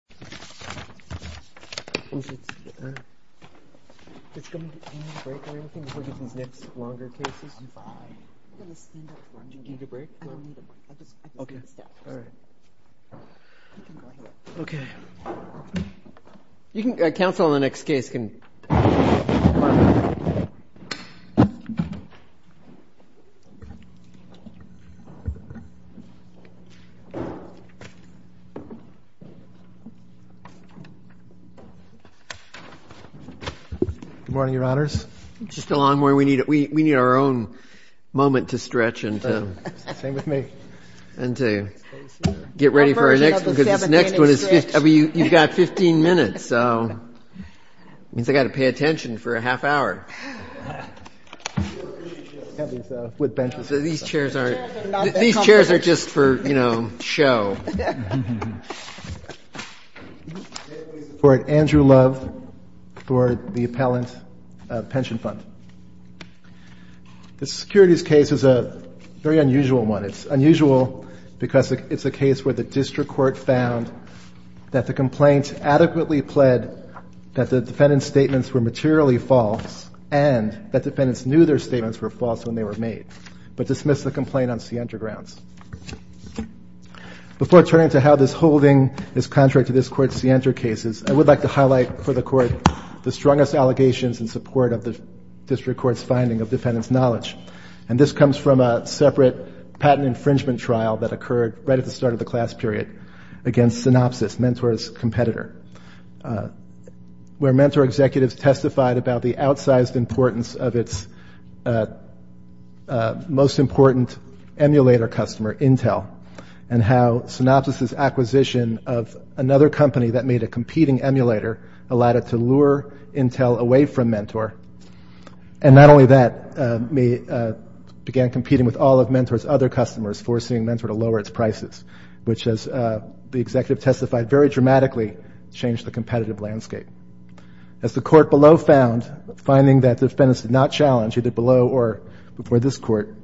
The Chairman of the WPEE Pension Fund v. Mentor Graphics Corp. Andrew Love for the Appellant Pension Fund. This securities case is a very unusual one. It's unusual because it's a case where the district court found that the complaint adequately pled that the defendant's statements were materially false and that defendants knew their statements were false when they were made, but dismissed the complaint on Sienta grounds. Before turning to how this holding is contrary to this Court's Sienta cases, I would like to highlight for the Court the strongest allegations in support of the district court's finding of defendant's knowledge. And this comes from a separate patent infringement trial that occurred right at the start of the class period against Synopsys, Mentor's competitor, where Mentor executives testified about the outsized importance of its most important emulator customer, Intel, and how Synopsys' acquisition of another company that made a competing emulator allowed it to lure Intel away from Mentor. And not only that, it began competing with all of Mentor's other customers, forcing Mentor to lower its prices, which, as the executive testified, very dramatically changed the competitive landscape. As the Court below found, finding that defendants did not challenge, either below or before this Court,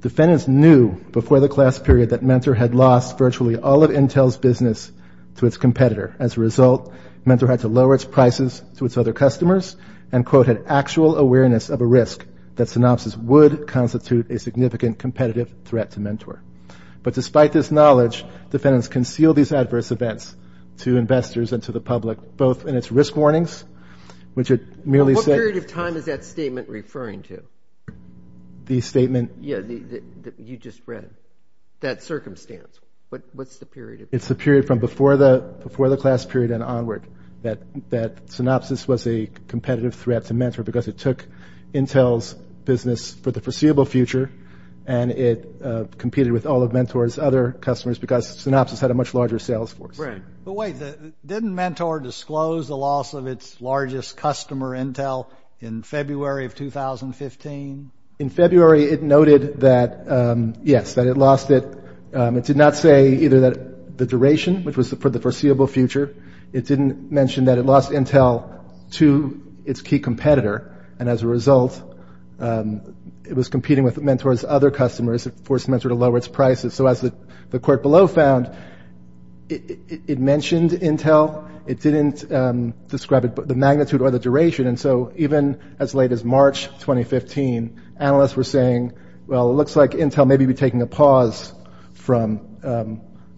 defendants knew before the class period that Mentor had lost virtually all of Intel's business to its competitor. As a result, Mentor had to lower its prices to its other customers and, quote, had actual awareness of a risk that Synopsys would constitute a significant competitive threat to Mentor. But despite this knowledge, defendants concealed these adverse events to investors and to the public, both in its risk warnings, which it merely said What period of time is that statement referring to? The statement? Yeah, that you just read, that circumstance. What's the period? It's the period from before the class period and onward that Synopsys was a competitive threat to Mentor because it took Intel's business for the foreseeable future and it competed with all of Mentor's other customers because Synopsys had a much larger sales force. But wait, didn't Mentor disclose the loss of its largest customer, Intel, in February of 2015? In February, it noted that, yes, that it lost it. It did not say either the duration, which was for the foreseeable future. It didn't mention that it lost Intel to its key competitor and, as a result, it was competing with Mentor's other customers and forced Mentor to lower its prices. So as the court below found, it mentioned Intel. It didn't describe the magnitude or the duration. And so even as late as March 2015, analysts were saying, Well, it looks like Intel may be taking a pause from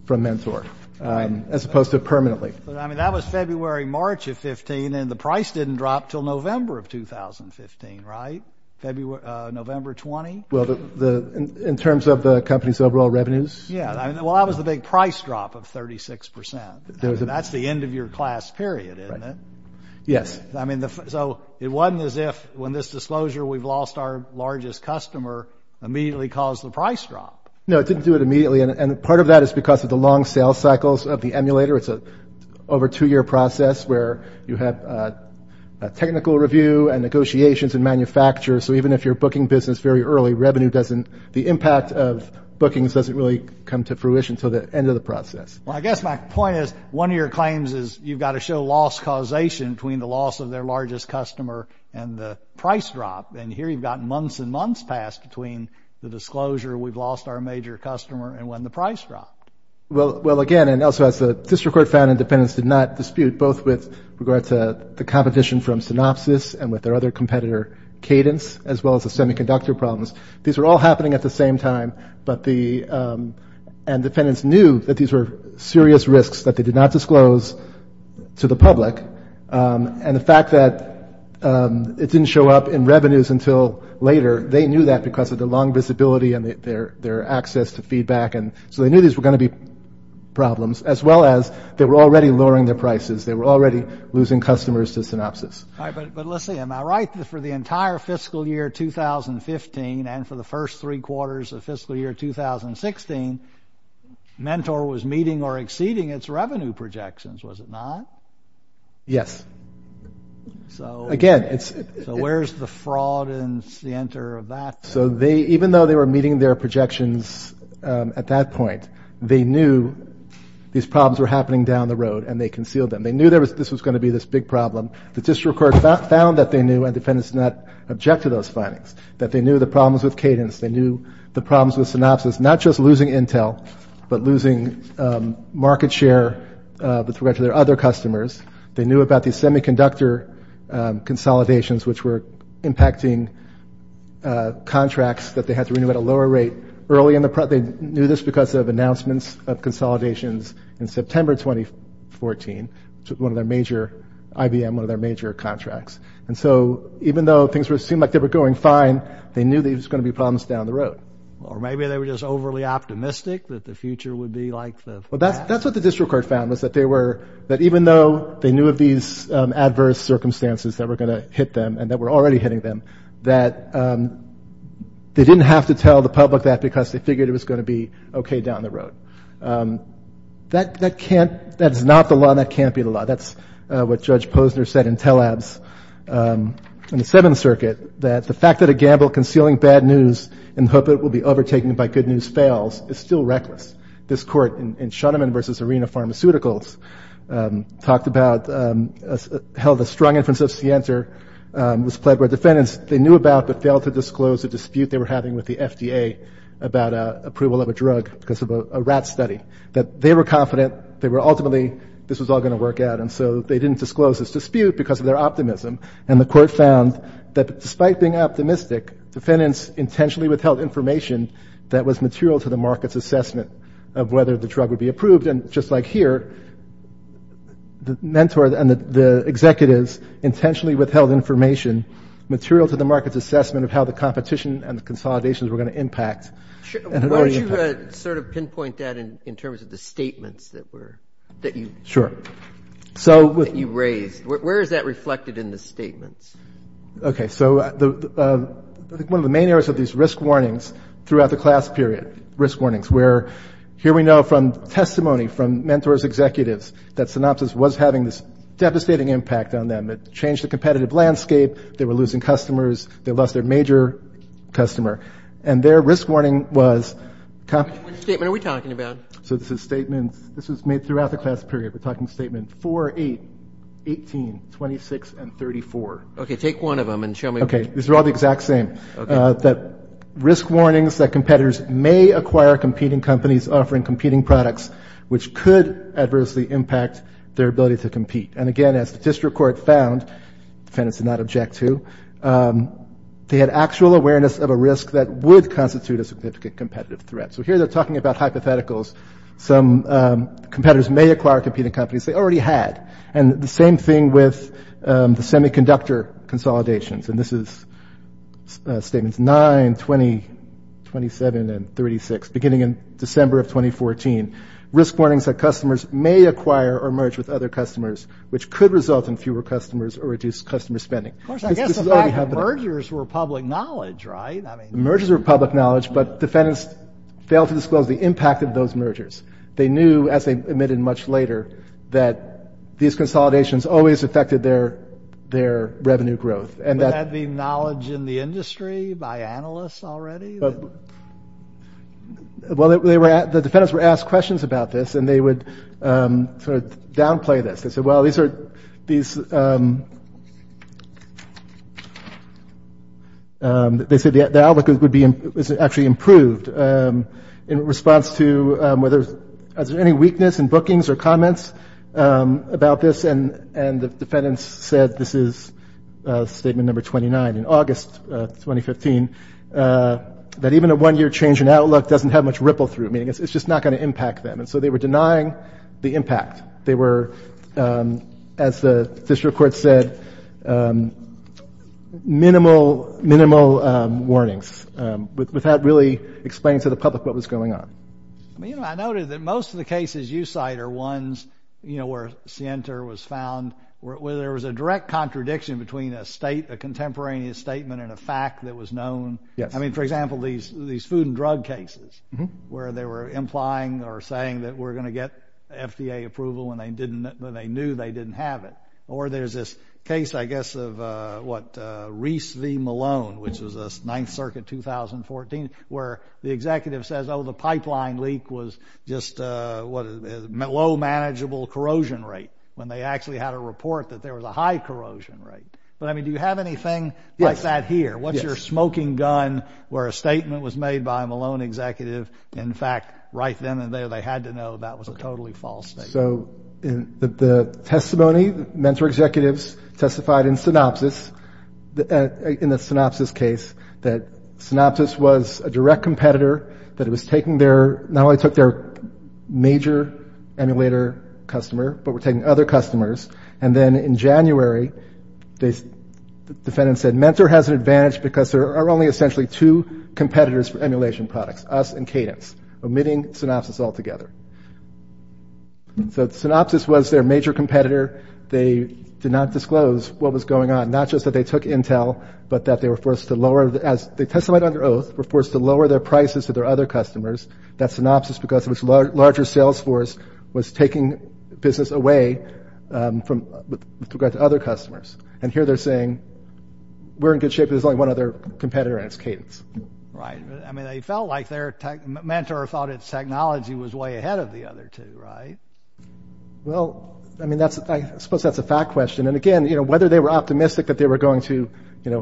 Mentor as opposed to permanently. But, I mean, that was February, March of 15, and the price didn't drop until November of 2015, right? November 20? Well, in terms of the company's overall revenues? Yeah, well, that was the big price drop of 36%. That's the end of your class period, isn't it? Yes. I mean, so it wasn't as if when this disclosure, we've lost our largest customer, immediately caused the price drop. No, it didn't do it immediately, and part of that is because of the long sales cycles of the emulator. It's an over two-year process where you have technical review and negotiations and manufacture. So even if you're a booking business very early, the impact of bookings doesn't really come to fruition until the end of the process. Well, I guess my point is, one of your claims is you've got to show loss causation between the loss of their largest customer and the price drop. And here you've got months and months past between the disclosure, we've lost our major customer, and when the price dropped. Well, again, and also as the district court found, Independence did not dispute, both with regard to the competition from Synopsys and with their other competitor, Cadence, as well as the semiconductor problems. These were all happening at the same time, and Independence knew that these were serious risks that they did not disclose to the public. And the fact that it didn't show up in revenues until later, they knew that because of the long visibility and their access to feedback. So they knew these were going to be problems, as well as they were already lowering their prices. They were already losing customers to Synopsys. All right, but let's see. Am I right that for the entire fiscal year 2015 and for the first three quarters of fiscal year 2016, Mentor was meeting or exceeding its revenue projections, was it not? Yes. So where's the fraud in the center of that? So even though they were meeting their projections at that point, they knew these problems were happening down the road, and they concealed them. They knew this was going to be this big problem. The district court found that they knew, and Independence did not object to those findings, that they knew the problems with Cadence. They knew the problems with Synopsys, not just losing Intel, but losing market share with regard to their other customers. They knew about these semiconductor consolidations, which were impacting contracts that they had to renew at a lower rate. They knew this because of announcements of consolidations in September 2014, one of their major – IBM, one of their major contracts. And so even though things seemed like they were going fine, they knew there was going to be problems down the road. Or maybe they were just overly optimistic that the future would be like the past. Well, that's what the district court found, was that they were – that even though they knew of these adverse circumstances that were going to hit them and that were already hitting them, that they didn't have to tell the public that because they figured it was going to be okay down the road. That can't – that is not the law, and that can't be the law. That's what Judge Posner said in Tellab's – in the Seventh Circuit, that the fact that a gamble concealing bad news in the hope that it will be overtaken by good news fails is still reckless. This court in Shuneman v. Arena Pharmaceuticals talked about – held a strong inference of Sienter, was pled by defendants. They knew about but failed to disclose the dispute they were having with the FDA about approval of a drug because of a rat study, that they were confident they were ultimately – this was all going to work out. And so they didn't disclose this dispute because of their optimism. And the court found that despite being optimistic, defendants intentionally withheld information that was material to the market's assessment of whether the drug would be approved. And just like here, the mentor and the executives intentionally withheld information material to the market's assessment of how the competition and the consolidations were going to impact. Why don't you sort of pinpoint that in terms of the statements that were – that you – Sure. – that you raised. Where is that reflected in the statements? Okay. So I think one of the main areas of these risk warnings throughout the class period, risk warnings, where here we know from testimony from mentors, executives, that Synopsys was having this devastating impact on them. It changed the competitive landscape. They were losing customers. They lost their major customer. And their risk warning was – Which statement are we talking about? So this is statements – this was made throughout the class period. We're talking statement 4, 8, 18, 26, and 34. Okay. Take one of them and show me – Okay. These are all the exact same. Okay. That risk warnings that competitors may acquire competing companies offering competing products, which could adversely impact their ability to compete. And again, as the district court found – defendants did not object to – they had actual awareness of a risk that would constitute a significant competitive threat. So here they're talking about hypotheticals. Some competitors may acquire competing companies they already had. And the same thing with the semiconductor consolidations. And this is statements 9, 20, 27, and 36, beginning in December of 2014. Risk warnings that customers may acquire or merge with other customers, which could result in fewer customers or reduce customer spending. Of course, I guess the fact that mergers were public knowledge, right? I mean – Mergers were public knowledge, but defendants failed to disclose the impact of those mergers. They knew, as they admitted much later, that these consolidations always affected their revenue growth. Would that be knowledge in the industry by analysts already? Well, the defendants were asked questions about this, and they would sort of downplay this. They said, well, these are – these – they said the outlook would be – is actually improved in response to whether – is there any weakness in bookings or comments about this? And the defendants said – this is statement number 29 in August 2015 – that even a one-year change in outlook doesn't have much ripple through it, meaning it's just not going to impact them. And so they were denying the impact. They were, as the district court said, minimal warnings, without really explaining to the public what was going on. I mean, I noted that most of the cases you cite are ones, you know, where Sienta was found, where there was a direct contradiction between a state – a contemporaneous statement and a fact that was known. I mean, for example, these food and drug cases, where they were implying or saying that we're going to get FDA approval when they didn't – when they knew they didn't have it. Or there's this case, I guess, of what, Reese v. Malone, which was the Ninth Circuit 2014, where the executive says, oh, the pipeline leak was just a low manageable corrosion rate, when they actually had a report that there was a high corrosion rate. But, I mean, do you have anything like that here? What's your smoking gun, where a statement was made by a Malone executive, in fact, right then and there they had to know that was a totally false statement? So the testimony, mentor executives testified in synopsis – in the synopsis case that synopsis was a direct competitor, that it was taking their – not only took their major emulator customer, but were taking other customers. And then in January, the defendant said, mentor has an advantage because there are only essentially two competitors for emulation products, us and Cadence, omitting synopsis altogether. So synopsis was their major competitor. They did not disclose what was going on, not just that they took Intel, but that they were forced to lower – as they testified under oath, were forced to lower their prices to their other customers. That's synopsis because it was a larger sales force was taking business away with regard to other customers. And here they're saying, we're in good shape, but there's only one other competitor, and it's Cadence. Right. I mean, they felt like their mentor thought its technology was way ahead of the other two, right? Well, I mean, that's – I suppose that's a fact question. And, again, whether they were optimistic that they were going to, you know,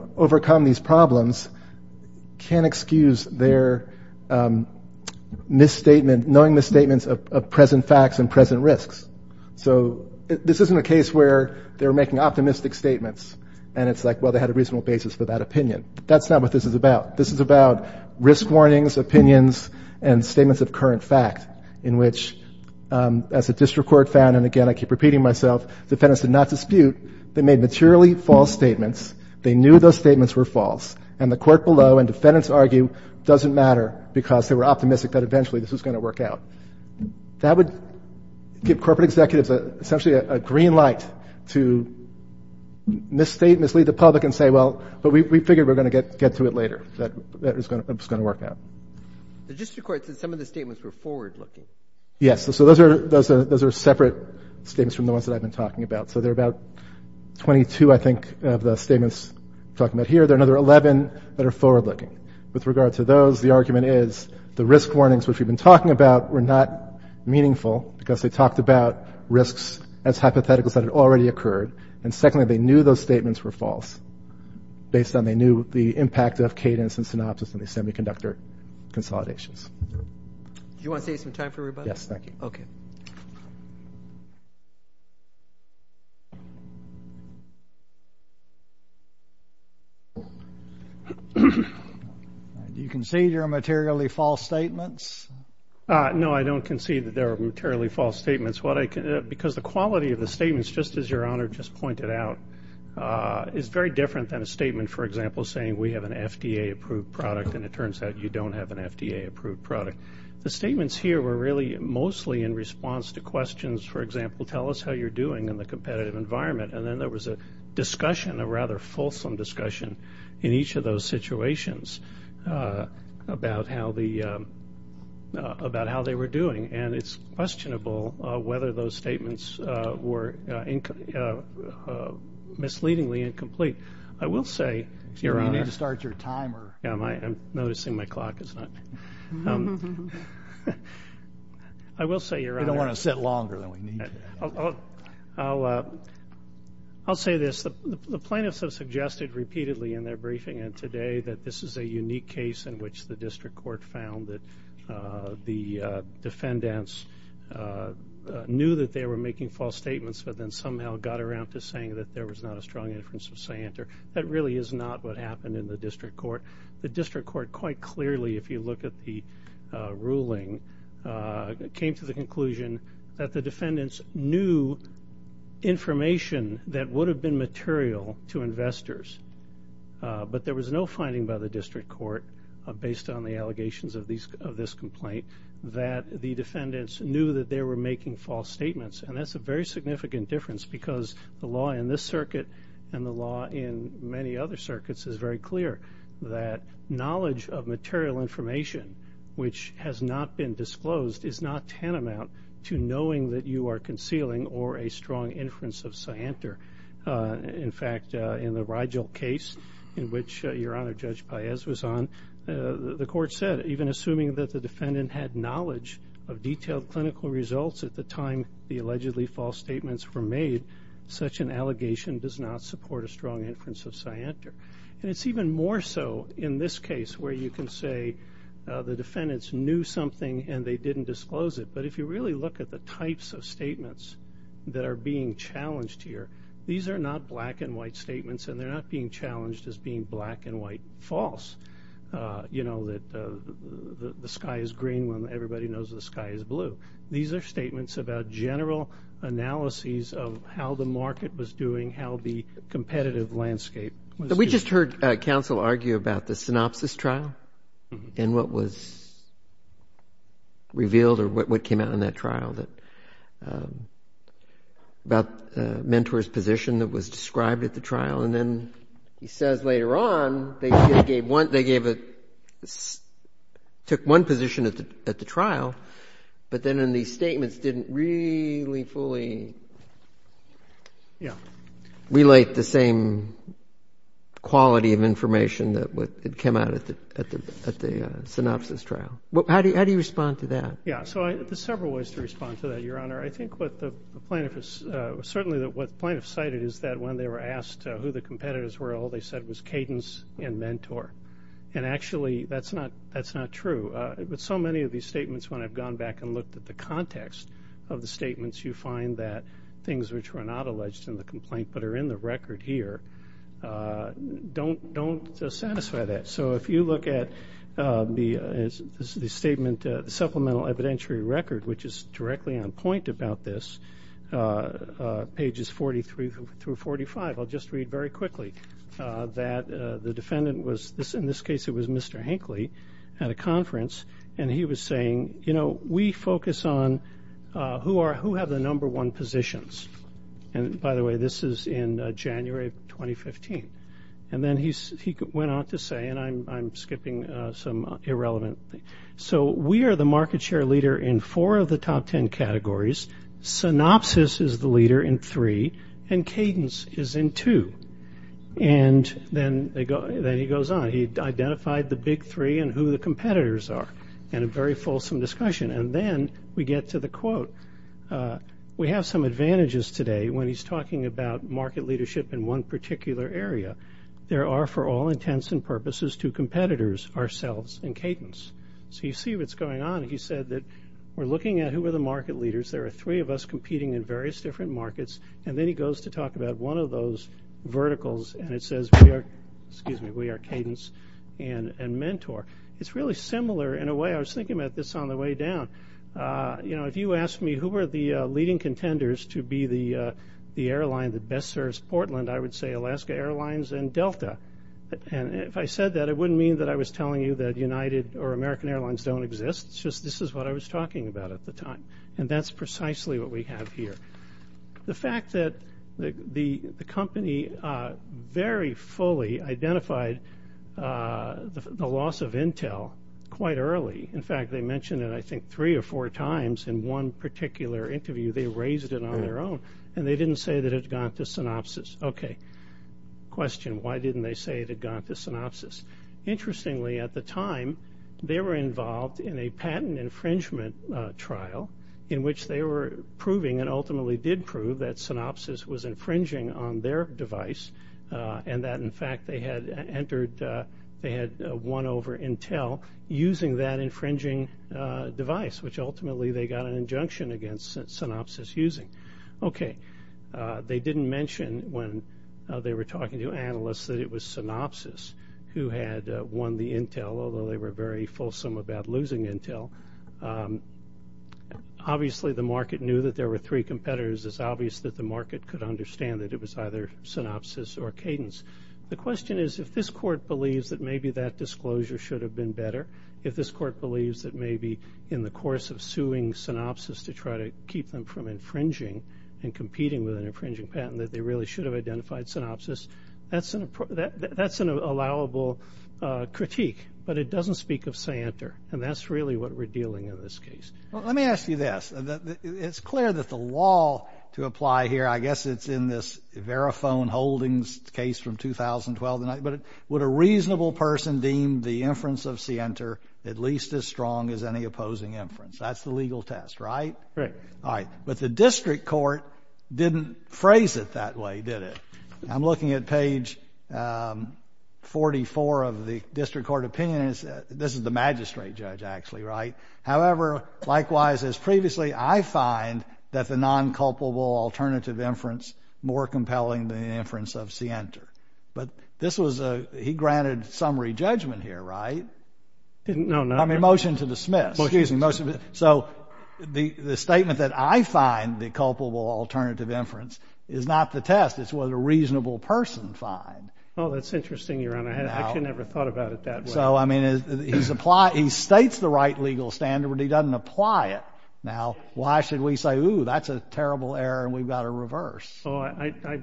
knowing misstatements of present facts and present risks. So this isn't a case where they were making optimistic statements, and it's like, well, they had a reasonable basis for that opinion. That's not what this is about. This is about risk warnings, opinions, and statements of current fact, in which, as a district court found – and, again, I keep repeating myself – defendants did not dispute. They made materially false statements. They knew those statements were false. And the court below and defendants argue, doesn't matter because they were optimistic that eventually this was going to work out. That would give corporate executives essentially a green light to misstate, mislead the public and say, well, but we figured we were going to get to it later, that it was going to work out. The district court said some of the statements were forward-looking. Yes. So those are separate statements from the ones that I've been talking about. So there are about 22, I think, of the statements we're talking about here. There are another 11 that are forward-looking. With regard to those, the argument is the risk warnings, which we've been talking about, were not meaningful because they talked about risks as hypotheticals that had already occurred. And secondly, they knew those statements were false, based on they knew the impact of cadence and synopsis on the semiconductor consolidations. Do you want to save some time for everybody? Yes, thank you. Okay. Do you concede there are materially false statements? No, I don't concede that there are materially false statements. Because the quality of the statements, just as Your Honor just pointed out, is very different than a statement, for example, saying we have an FDA-approved product and it turns out you don't have an FDA-approved product. The statements here were really mostly in response to questions, for example, tell us how you're doing in the competitive environment. And then there was a discussion, a rather fulsome discussion, in each of those situations about how they were doing. And it's questionable whether those statements were misleadingly incomplete. I will say, Your Honor. You need to start your timer. I'm noticing my clock is not. I will say, Your Honor. We don't want to sit longer than we need to. I'll say this. The plaintiffs have suggested repeatedly in their briefing and today that this is a unique case in which the district court found that the defendants knew that they were making false statements but then somehow got around to saying that there was not a strong inference of say-enter. That really is not what happened in the district court. The district court quite clearly, if you look at the ruling, came to the conclusion that the defendants knew information that would have been material to investors. But there was no finding by the district court, based on the allegations of this complaint, that the defendants knew that they were making false statements. And that's a very significant difference because the law in this circuit and the law in many other circuits is very clear that knowledge of material information, which has not been disclosed, is not tantamount to knowing that you are concealing or a strong inference of say-enter. In fact, in the Rigel case, in which Your Honor Judge Paez was on, the court said, even assuming that the defendant had knowledge of detailed clinical results at the time the allegedly false statements were made, such an allegation does not support a strong inference of say-enter. And it's even more so in this case where you can say the defendants knew something and they didn't disclose it. But if you really look at the types of statements that are being challenged here, these are not black-and-white statements, and they're not being challenged as being black-and-white false, you know, that the sky is green when everybody knows the sky is blue. These are statements about general analyses of how the market was doing, how the competitive landscape was doing. We just heard counsel argue about the synopsis trial and what was revealed or what came out in that trial, about the mentor's position that was described at the trial. And then he says later on they took one position at the trial, but then in these statements didn't really fully relate the same quality of information that had come out at the synopsis trial. How do you respond to that? Yeah, so there's several ways to respond to that, Your Honor. I think what the plaintiff has certainly cited is that when they were asked who the competitors were, all they said was cadence and mentor. And actually that's not true. So many of these statements, when I've gone back and looked at the context of the statements, you find that things which were not alleged in the complaint but are in the record here don't satisfy that. So if you look at the statement supplemental evidentiary record, which is directly on point about this, pages 43 through 45, I'll just read very quickly that the defendant was, in this case it was Mr. Hinckley, at a conference, and he was saying, you know, we focus on who have the number one positions. And, by the way, this is in January of 2015. And then he went on to say, and I'm skipping some irrelevant things, so we are the market share leader in four of the top ten categories. Synopsis is the leader in three, and cadence is in two. And then he goes on. He identified the big three and who the competitors are in a very fulsome discussion. And then we get to the quote. We have some advantages today when he's talking about market leadership in one particular area. There are for all intents and purposes two competitors, ourselves and cadence. So you see what's going on. He said that we're looking at who are the market leaders. There are three of us competing in various different markets. And then he goes to talk about one of those verticals, and it says we are cadence and mentor. It's really similar in a way. I was thinking about this on the way down. You know, if you asked me who were the leading contenders to be the airline that best serves Portland, I would say Alaska Airlines and Delta. And if I said that, it wouldn't mean that I was telling you that United or American Airlines don't exist, it's just this is what I was talking about at the time. And that's precisely what we have here. The fact that the company very fully identified the loss of Intel quite early. In fact, they mentioned it I think three or four times in one particular interview. They raised it on their own, and they didn't say that it had gone up to synopsis. Okay, question, why didn't they say it had gone up to synopsis? Interestingly, at the time, they were involved in a patent infringement trial in which they were proving and ultimately did prove that synopsis was infringing on their device and that, in fact, they had won over Intel using that infringing device, which ultimately they got an injunction against synopsis using. Okay, they didn't mention when they were talking to analysts that it was synopsis who had won the Intel, although they were very fulsome about losing Intel. Obviously, the market knew that there were three competitors. It's obvious that the market could understand that it was either synopsis or cadence. The question is if this court believes that maybe that disclosure should have been better, if this court believes that maybe in the course of suing synopsis to try to keep them from infringing and competing with an infringing patent that they really should have identified synopsis, that's an allowable critique, but it doesn't speak of scienter, and that's really what we're dealing in this case. Let me ask you this. It's clear that the law to apply here, I guess it's in this Verifone Holdings case from 2012, but would a reasonable person deem the inference of scienter at least as strong as any opposing inference? That's the legal test, right? Right. All right, but the district court didn't phrase it that way, did it? I'm looking at page 44 of the district court opinion. This is the magistrate judge, actually, right? However, likewise as previously, I find that the non-culpable alternative inference more compelling than the inference of scienter. But this was a he granted summary judgment here, right? No, no. I'm in motion to dismiss. Well, excuse me. So the statement that I find the culpable alternative inference is not the test. It's what a reasonable person finds. Oh, that's interesting, Your Honor. I actually never thought about it that way. So, I mean, he states the right legal standard, but he doesn't apply it. Now, why should we say, ooh, that's a terrible error and we've got to reverse?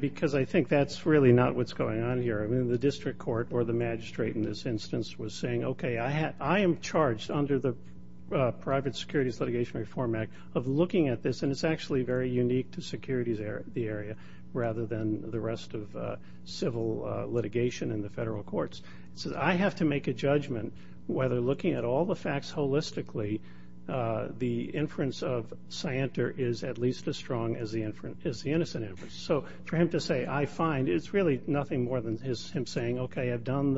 Because I think that's really not what's going on here. I mean, the district court or the magistrate in this instance was saying, okay, I am charged under the Private Securities Litigation Reform Act of looking at this, and it's actually very unique to securities the area rather than the rest of civil litigation in the federal courts. So I have to make a judgment whether looking at all the facts holistically, the inference of scienter is at least as strong as the innocent inference. So for him to say, I find, it's really nothing more than him saying, okay, I've done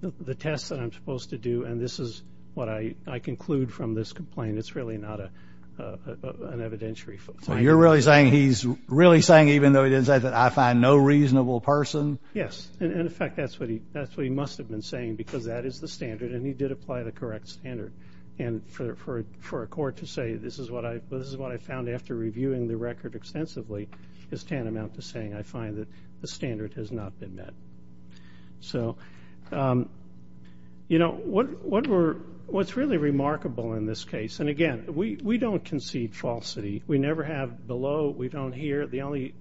the test that I'm supposed to do, and this is what I conclude from this complaint. It's really not an evidentiary. So you're really saying he's really saying, even though he didn't say that, I find no reasonable person? Yes. And, in fact, that's what he must have been saying because that is the standard, and he did apply the correct standard. And for a court to say this is what I found after reviewing the record extensively is tantamount to saying, I find that the standard has not been met. So, you know, what's really remarkable in this case, and, again, we don't concede falsity. We never have below. We don't hear. The only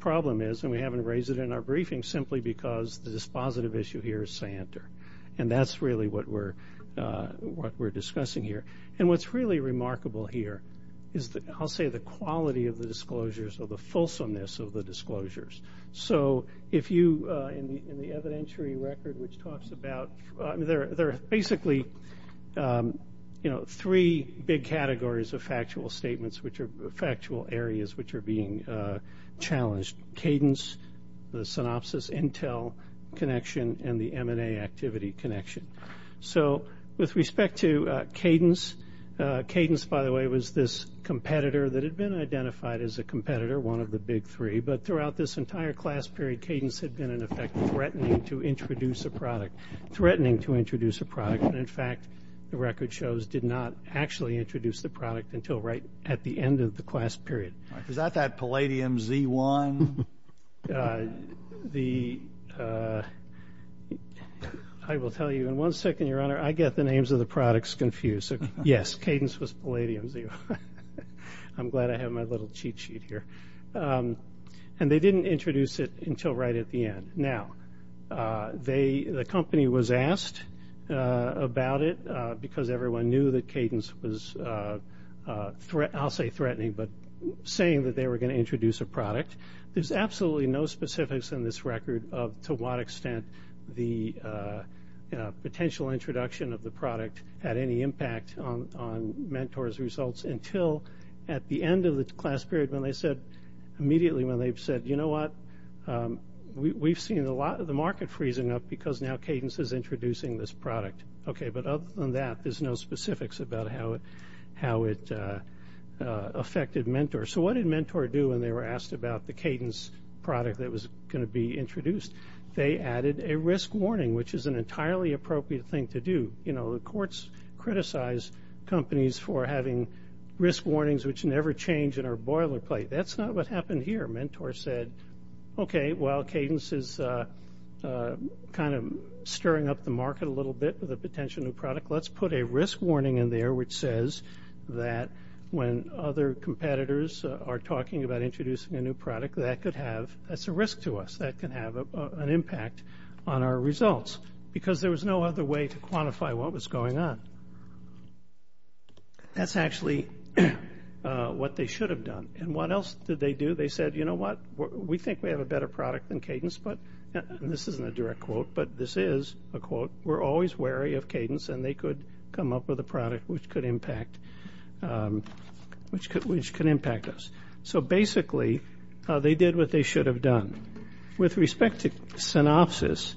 problem is, and we haven't raised it in our briefing, simply because the dispositive issue here is scienter, and that's really what we're discussing here. And what's really remarkable here is I'll say the quality of the disclosures or the fulsomeness of the disclosures. So if you, in the evidentiary record, which talks about there are basically, you know, three big categories of factual statements which are factual areas which are being challenged, cadence, the synopsis, intel connection, and the M&A activity connection. So with respect to cadence, cadence, by the way, was this competitor that had been identified as a competitor, one of the big three. But throughout this entire class period, cadence had been, in effect, threatening to introduce a product. Threatening to introduce a product. And, in fact, the record shows did not actually introduce the product until right at the end of the class period. Was that that Palladium Z1? The ‑‑ I will tell you in one second, Your Honor, I get the names of the products confused. Yes, cadence was Palladium Z1. I'm glad I have my little cheat sheet here. And they didn't introduce it until right at the end. Now, the company was asked about it because everyone knew that cadence was, I'll say threatening, but saying that they were going to introduce a product. There's absolutely no specifics in this record of to what extent the potential introduction of the product had any impact on Mentor's results until at the end of the class period when they said, immediately when they said, you know what, we've seen a lot of the market freezing up because now cadence is introducing this product. Okay, but other than that, there's no specifics about how it affected Mentor. So what did Mentor do when they were asked about the cadence product that was going to be introduced? They added a risk warning, which is an entirely appropriate thing to do. You know, the courts criticize companies for having risk warnings which never change in our boilerplate. That's not what happened here. Mentor said, okay, well, cadence is kind of stirring up the market a little bit with a potential new product. Let's put a risk warning in there which says that when other competitors are talking about introducing a new product, that could have, that's a risk to us, that can have an impact on our results because there was no other way to quantify what was going on. That's actually what they should have done. And what else did they do? They said, you know what, we think we have a better product than cadence, and this isn't a direct quote, but this is a quote, we're always wary of cadence and they could come up with a product which could impact us. So basically, they did what they should have done. With respect to synopsis,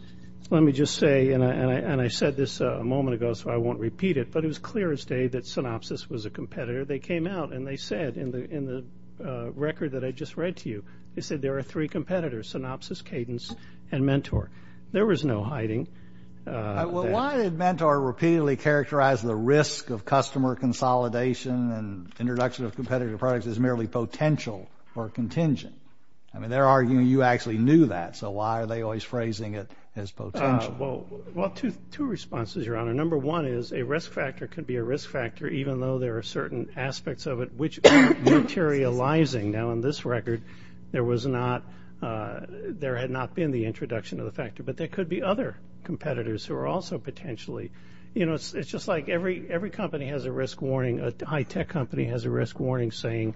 let me just say, and I said this a moment ago so I won't repeat it, but it was clear as day that synopsis was a competitor. They came out and they said in the record that I just read to you, they said there are three competitors, synopsis, cadence, and mentor. There was no hiding. Well, why did mentor repeatedly characterize the risk of customer consolidation and introduction of competitive products as merely potential or contingent? I mean, they're arguing you actually knew that, so why are they always phrasing it as potential? Well, two responses, Your Honor. Number one is a risk factor could be a risk factor even though there are certain aspects of it which materializing. Now, in this record, there had not been the introduction of the factor, but there could be other competitors who are also potentially. You know, it's just like every company has a risk warning. A high-tech company has a risk warning saying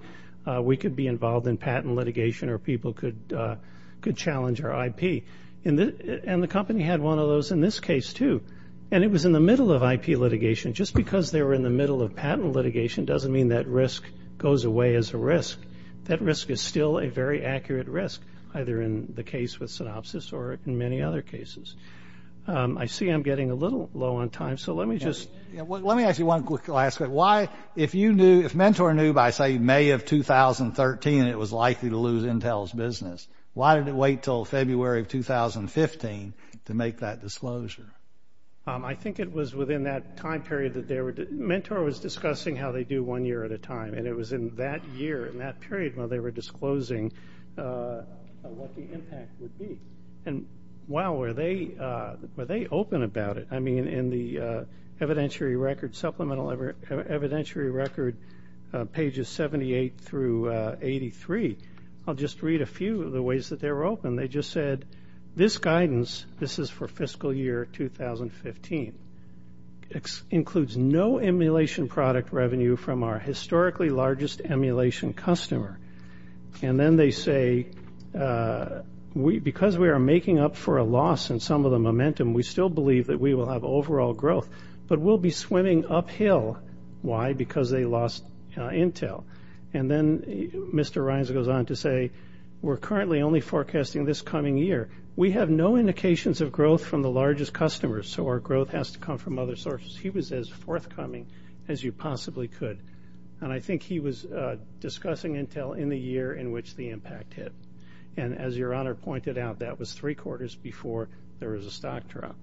we could be involved in patent litigation or people could challenge our IP. And the company had one of those in this case, too. And it was in the middle of IP litigation. Just because they were in the middle of patent litigation doesn't mean that risk goes away as a risk. That risk is still a very accurate risk, either in the case with synopsis or in many other cases. I see I'm getting a little low on time, so let me just. Let me ask you one quick question. Why, if you knew, if Mentor knew by, say, May of 2013 it was likely to lose Intel's business, why did it wait until February of 2015 to make that disclosure? I think it was within that time period that they were. Mentor was discussing how they do one year at a time, and it was in that year and that period where they were disclosing what the impact would be. And, wow, were they open about it. I mean, in the evidentiary record, supplemental evidentiary record, pages 78 through 83, I'll just read a few of the ways that they were open. They just said, this guidance, this is for fiscal year 2015, includes no emulation product revenue from our historically largest emulation customer. And then they say, because we are making up for a loss in some of the momentum, we still believe that we will have overall growth, but we'll be swimming uphill. Why? Because they lost Intel. And then Mr. Reins goes on to say, we're currently only forecasting this coming year. We have no indications of growth from the largest customers, so our growth has to come from other sources. He was as forthcoming as you possibly could. And I think he was discussing Intel in the year in which the impact hit. And as Your Honor pointed out, that was three quarters before there was a stock drop.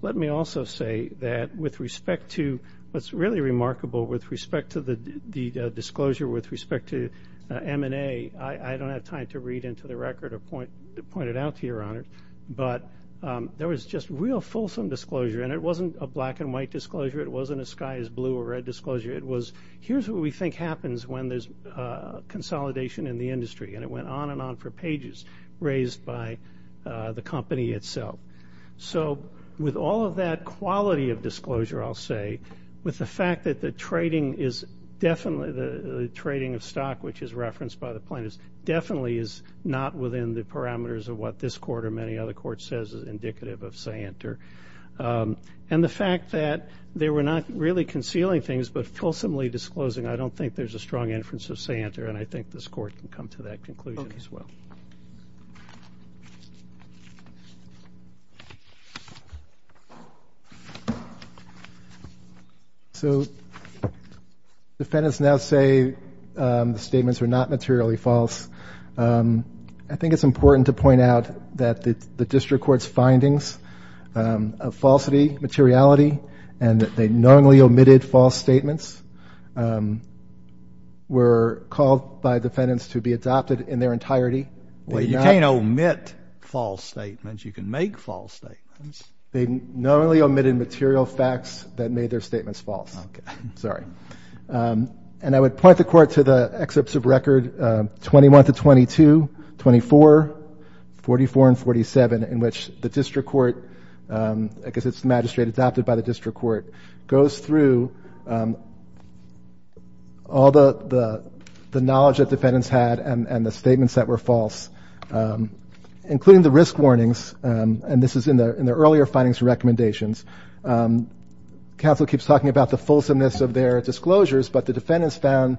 Let me also say that with respect to what's really remarkable with respect to the disclosure, with respect to M&A, I don't have time to read into the record or point it out to Your Honor, but there was just real fulsome disclosure. And it wasn't a black and white disclosure. It wasn't a sky is blue or red disclosure. It was, here's what we think happens when there's consolidation in the industry. And it went on and on for pages raised by the company itself. So with all of that quality of disclosure, I'll say, with the fact that the trading is definitely the trading of stock, which is referenced by the plaintiffs, definitely is not within the parameters of what this court or many other courts says is indicative of say-enter. And the fact that they were not really concealing things but fulsomely disclosing, I don't think there's a strong inference of say-enter, and I think this court can come to that conclusion as well. So defendants now say the statements are not materially false. I think it's important to point out that the district court's findings of falsity, materiality, and that they knowingly omitted false statements were called by defendants to be adopted in their entirety. You can't omit false statements. You can make false statements. They knowingly omitted material facts that made their statements false. Okay. Sorry. And I would point the court to the excerpts of record 21 to 22, 24, 44, and 47, in which the district court, I guess it's the magistrate adopted by the district court, goes through all the knowledge that defendants had and the statements that were false, including the risk warnings, and this is in their earlier findings and recommendations. Counsel keeps talking about the fulsomeness of their disclosures, but the defendants found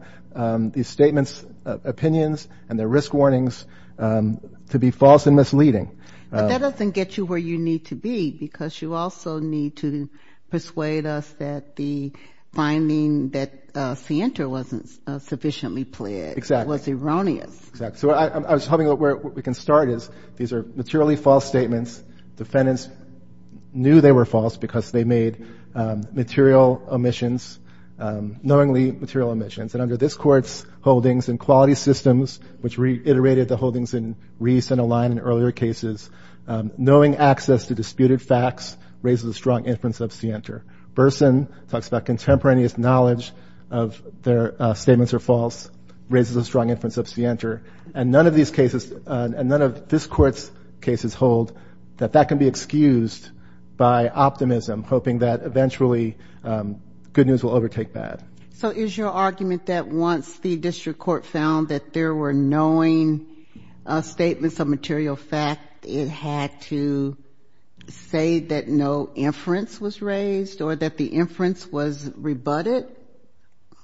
these statements, opinions, and their risk warnings to be false and misleading. But that doesn't get you where you need to be, because you also need to persuade us that the finding that say-enter wasn't sufficiently pled was erroneous. Exactly. So I was hoping where we can start is these are materially false statements. Defendants knew they were false because they made material omissions, knowingly material omissions. And under this court's holdings and quality systems, which reiterated the holdings in Reese and Align in earlier cases, knowing access to disputed facts raises a strong inference of say-enter. Burson talks about contemporaneous knowledge of their statements are false, raises a strong inference of say-enter. And none of these cases and none of this court's cases hold that that can be excused by optimism, hoping that eventually good news will overtake bad. So is your argument that once the district court found that there were knowing statements of material fact, it had to say that no inference was raised or that the inference was rebutted?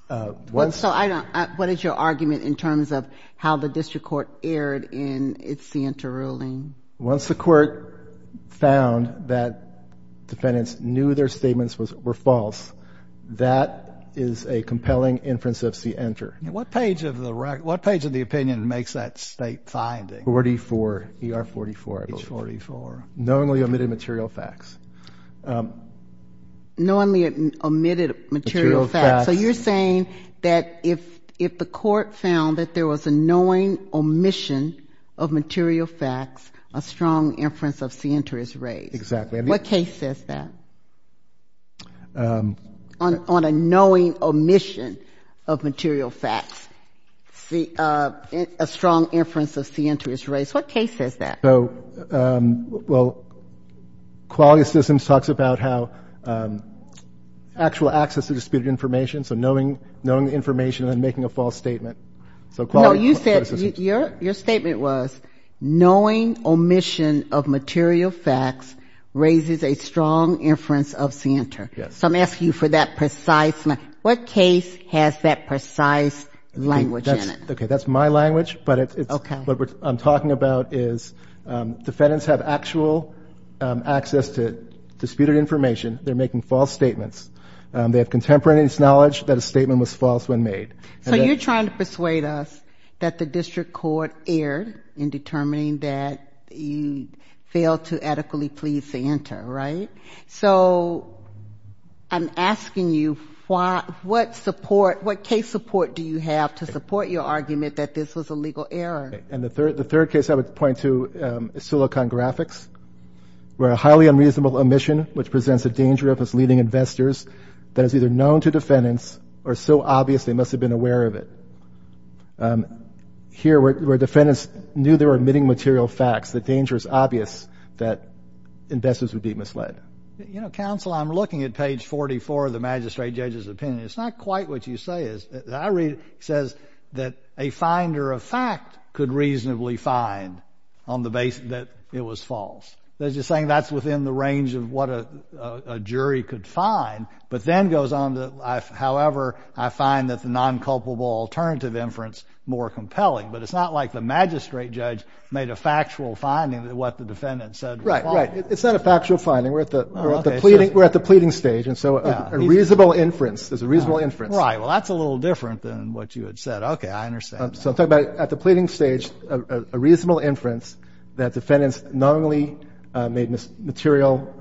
So what is your argument in terms of how the district court erred in its say-enter ruling? Once the court found that defendants knew their statements were false, that is a compelling inference of say-enter. What page of the opinion makes that state finding? 44, ER 44, I believe. 44. Knowingly omitted material facts. Knowingly omitted material facts. So you're saying that if the court found that there was a knowing omission of material facts, a strong inference of say-enter is raised. Exactly. What case says that? On a knowing omission of material facts, a strong inference of say-enter is raised. What case says that? Well, qualia systems talks about how actual access to disputed information, so knowing the information and then making a false statement. No, you said your statement was knowing omission of material facts raises a strong inference of say-enter. Yes. So I'm asking you for that precise. What case has that precise language in it? Okay, that's my language, but what I'm talking about is defendants have actual access to disputed information. They're making false statements. They have contemporaneous knowledge that a statement was false when made. So you're trying to persuade us that the district court erred in determining that you failed to adequately please say-enter, right? So I'm asking you what case support do you have to support your argument that this was a legal error? And the third case I would point to is Silicon Graphics, where a highly unreasonable omission, which presents a danger of its leading investors that is either known to defendants or so obvious they must have been aware of it. Here, where defendants knew they were omitting material facts, the danger is obvious that investors would be misled. You know, counsel, I'm looking at page 44 of the magistrate judge's opinion. It's not quite what you say is. I read it says that a finder of fact could reasonably find on the basis that it was false. They're just saying that's within the range of what a jury could find. But then goes on to, however, I find that the non-culpable alternative inference more compelling. But it's not like the magistrate judge made a factual finding that what the defendant said was false. Right, right. It's not a factual finding. We're at the pleading stage. And so a reasonable inference is a reasonable inference. Right. Well, that's a little different than what you had said. Okay, I understand. So I'm talking about at the pleading stage, a reasonable inference that defendants not only made material,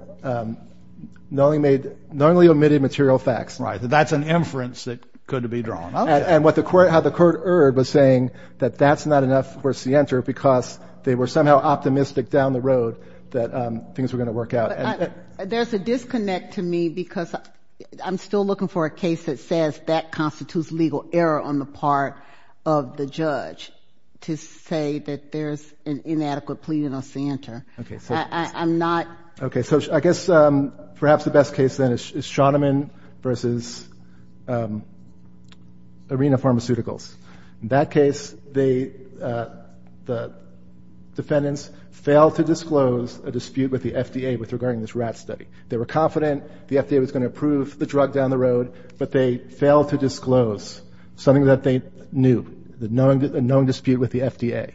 not only made, not only omitted material facts. Right. That's an inference that could be drawn. And what the court, how the court erred was saying that that's not enough for Sienter because they were somehow optimistic down the road that things were going to work out. There's a disconnect to me because I'm still looking for a case that says that constitutes legal error on the part of the judge to say that there's an inadequate pleading on Sienter. I'm not. Okay, so I guess perhaps the best case then is Shoneman v. Arena Pharmaceuticals. In that case, the defendants failed to disclose a dispute with the FDA regarding this rat study. They were confident the FDA was going to approve the drug down the road, but they failed to disclose something that they knew, a known dispute with the FDA.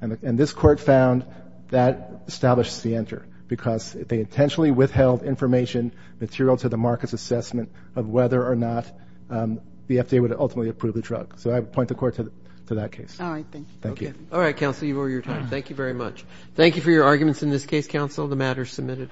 And this court found that established Sienter because they intentionally withheld information, material to the market's assessment of whether or not the FDA would ultimately approve the drug. So I would point the court to that case. All right, thank you. Thank you. All right, counsel, you've over your time. Thank you very much. The matter is submitted.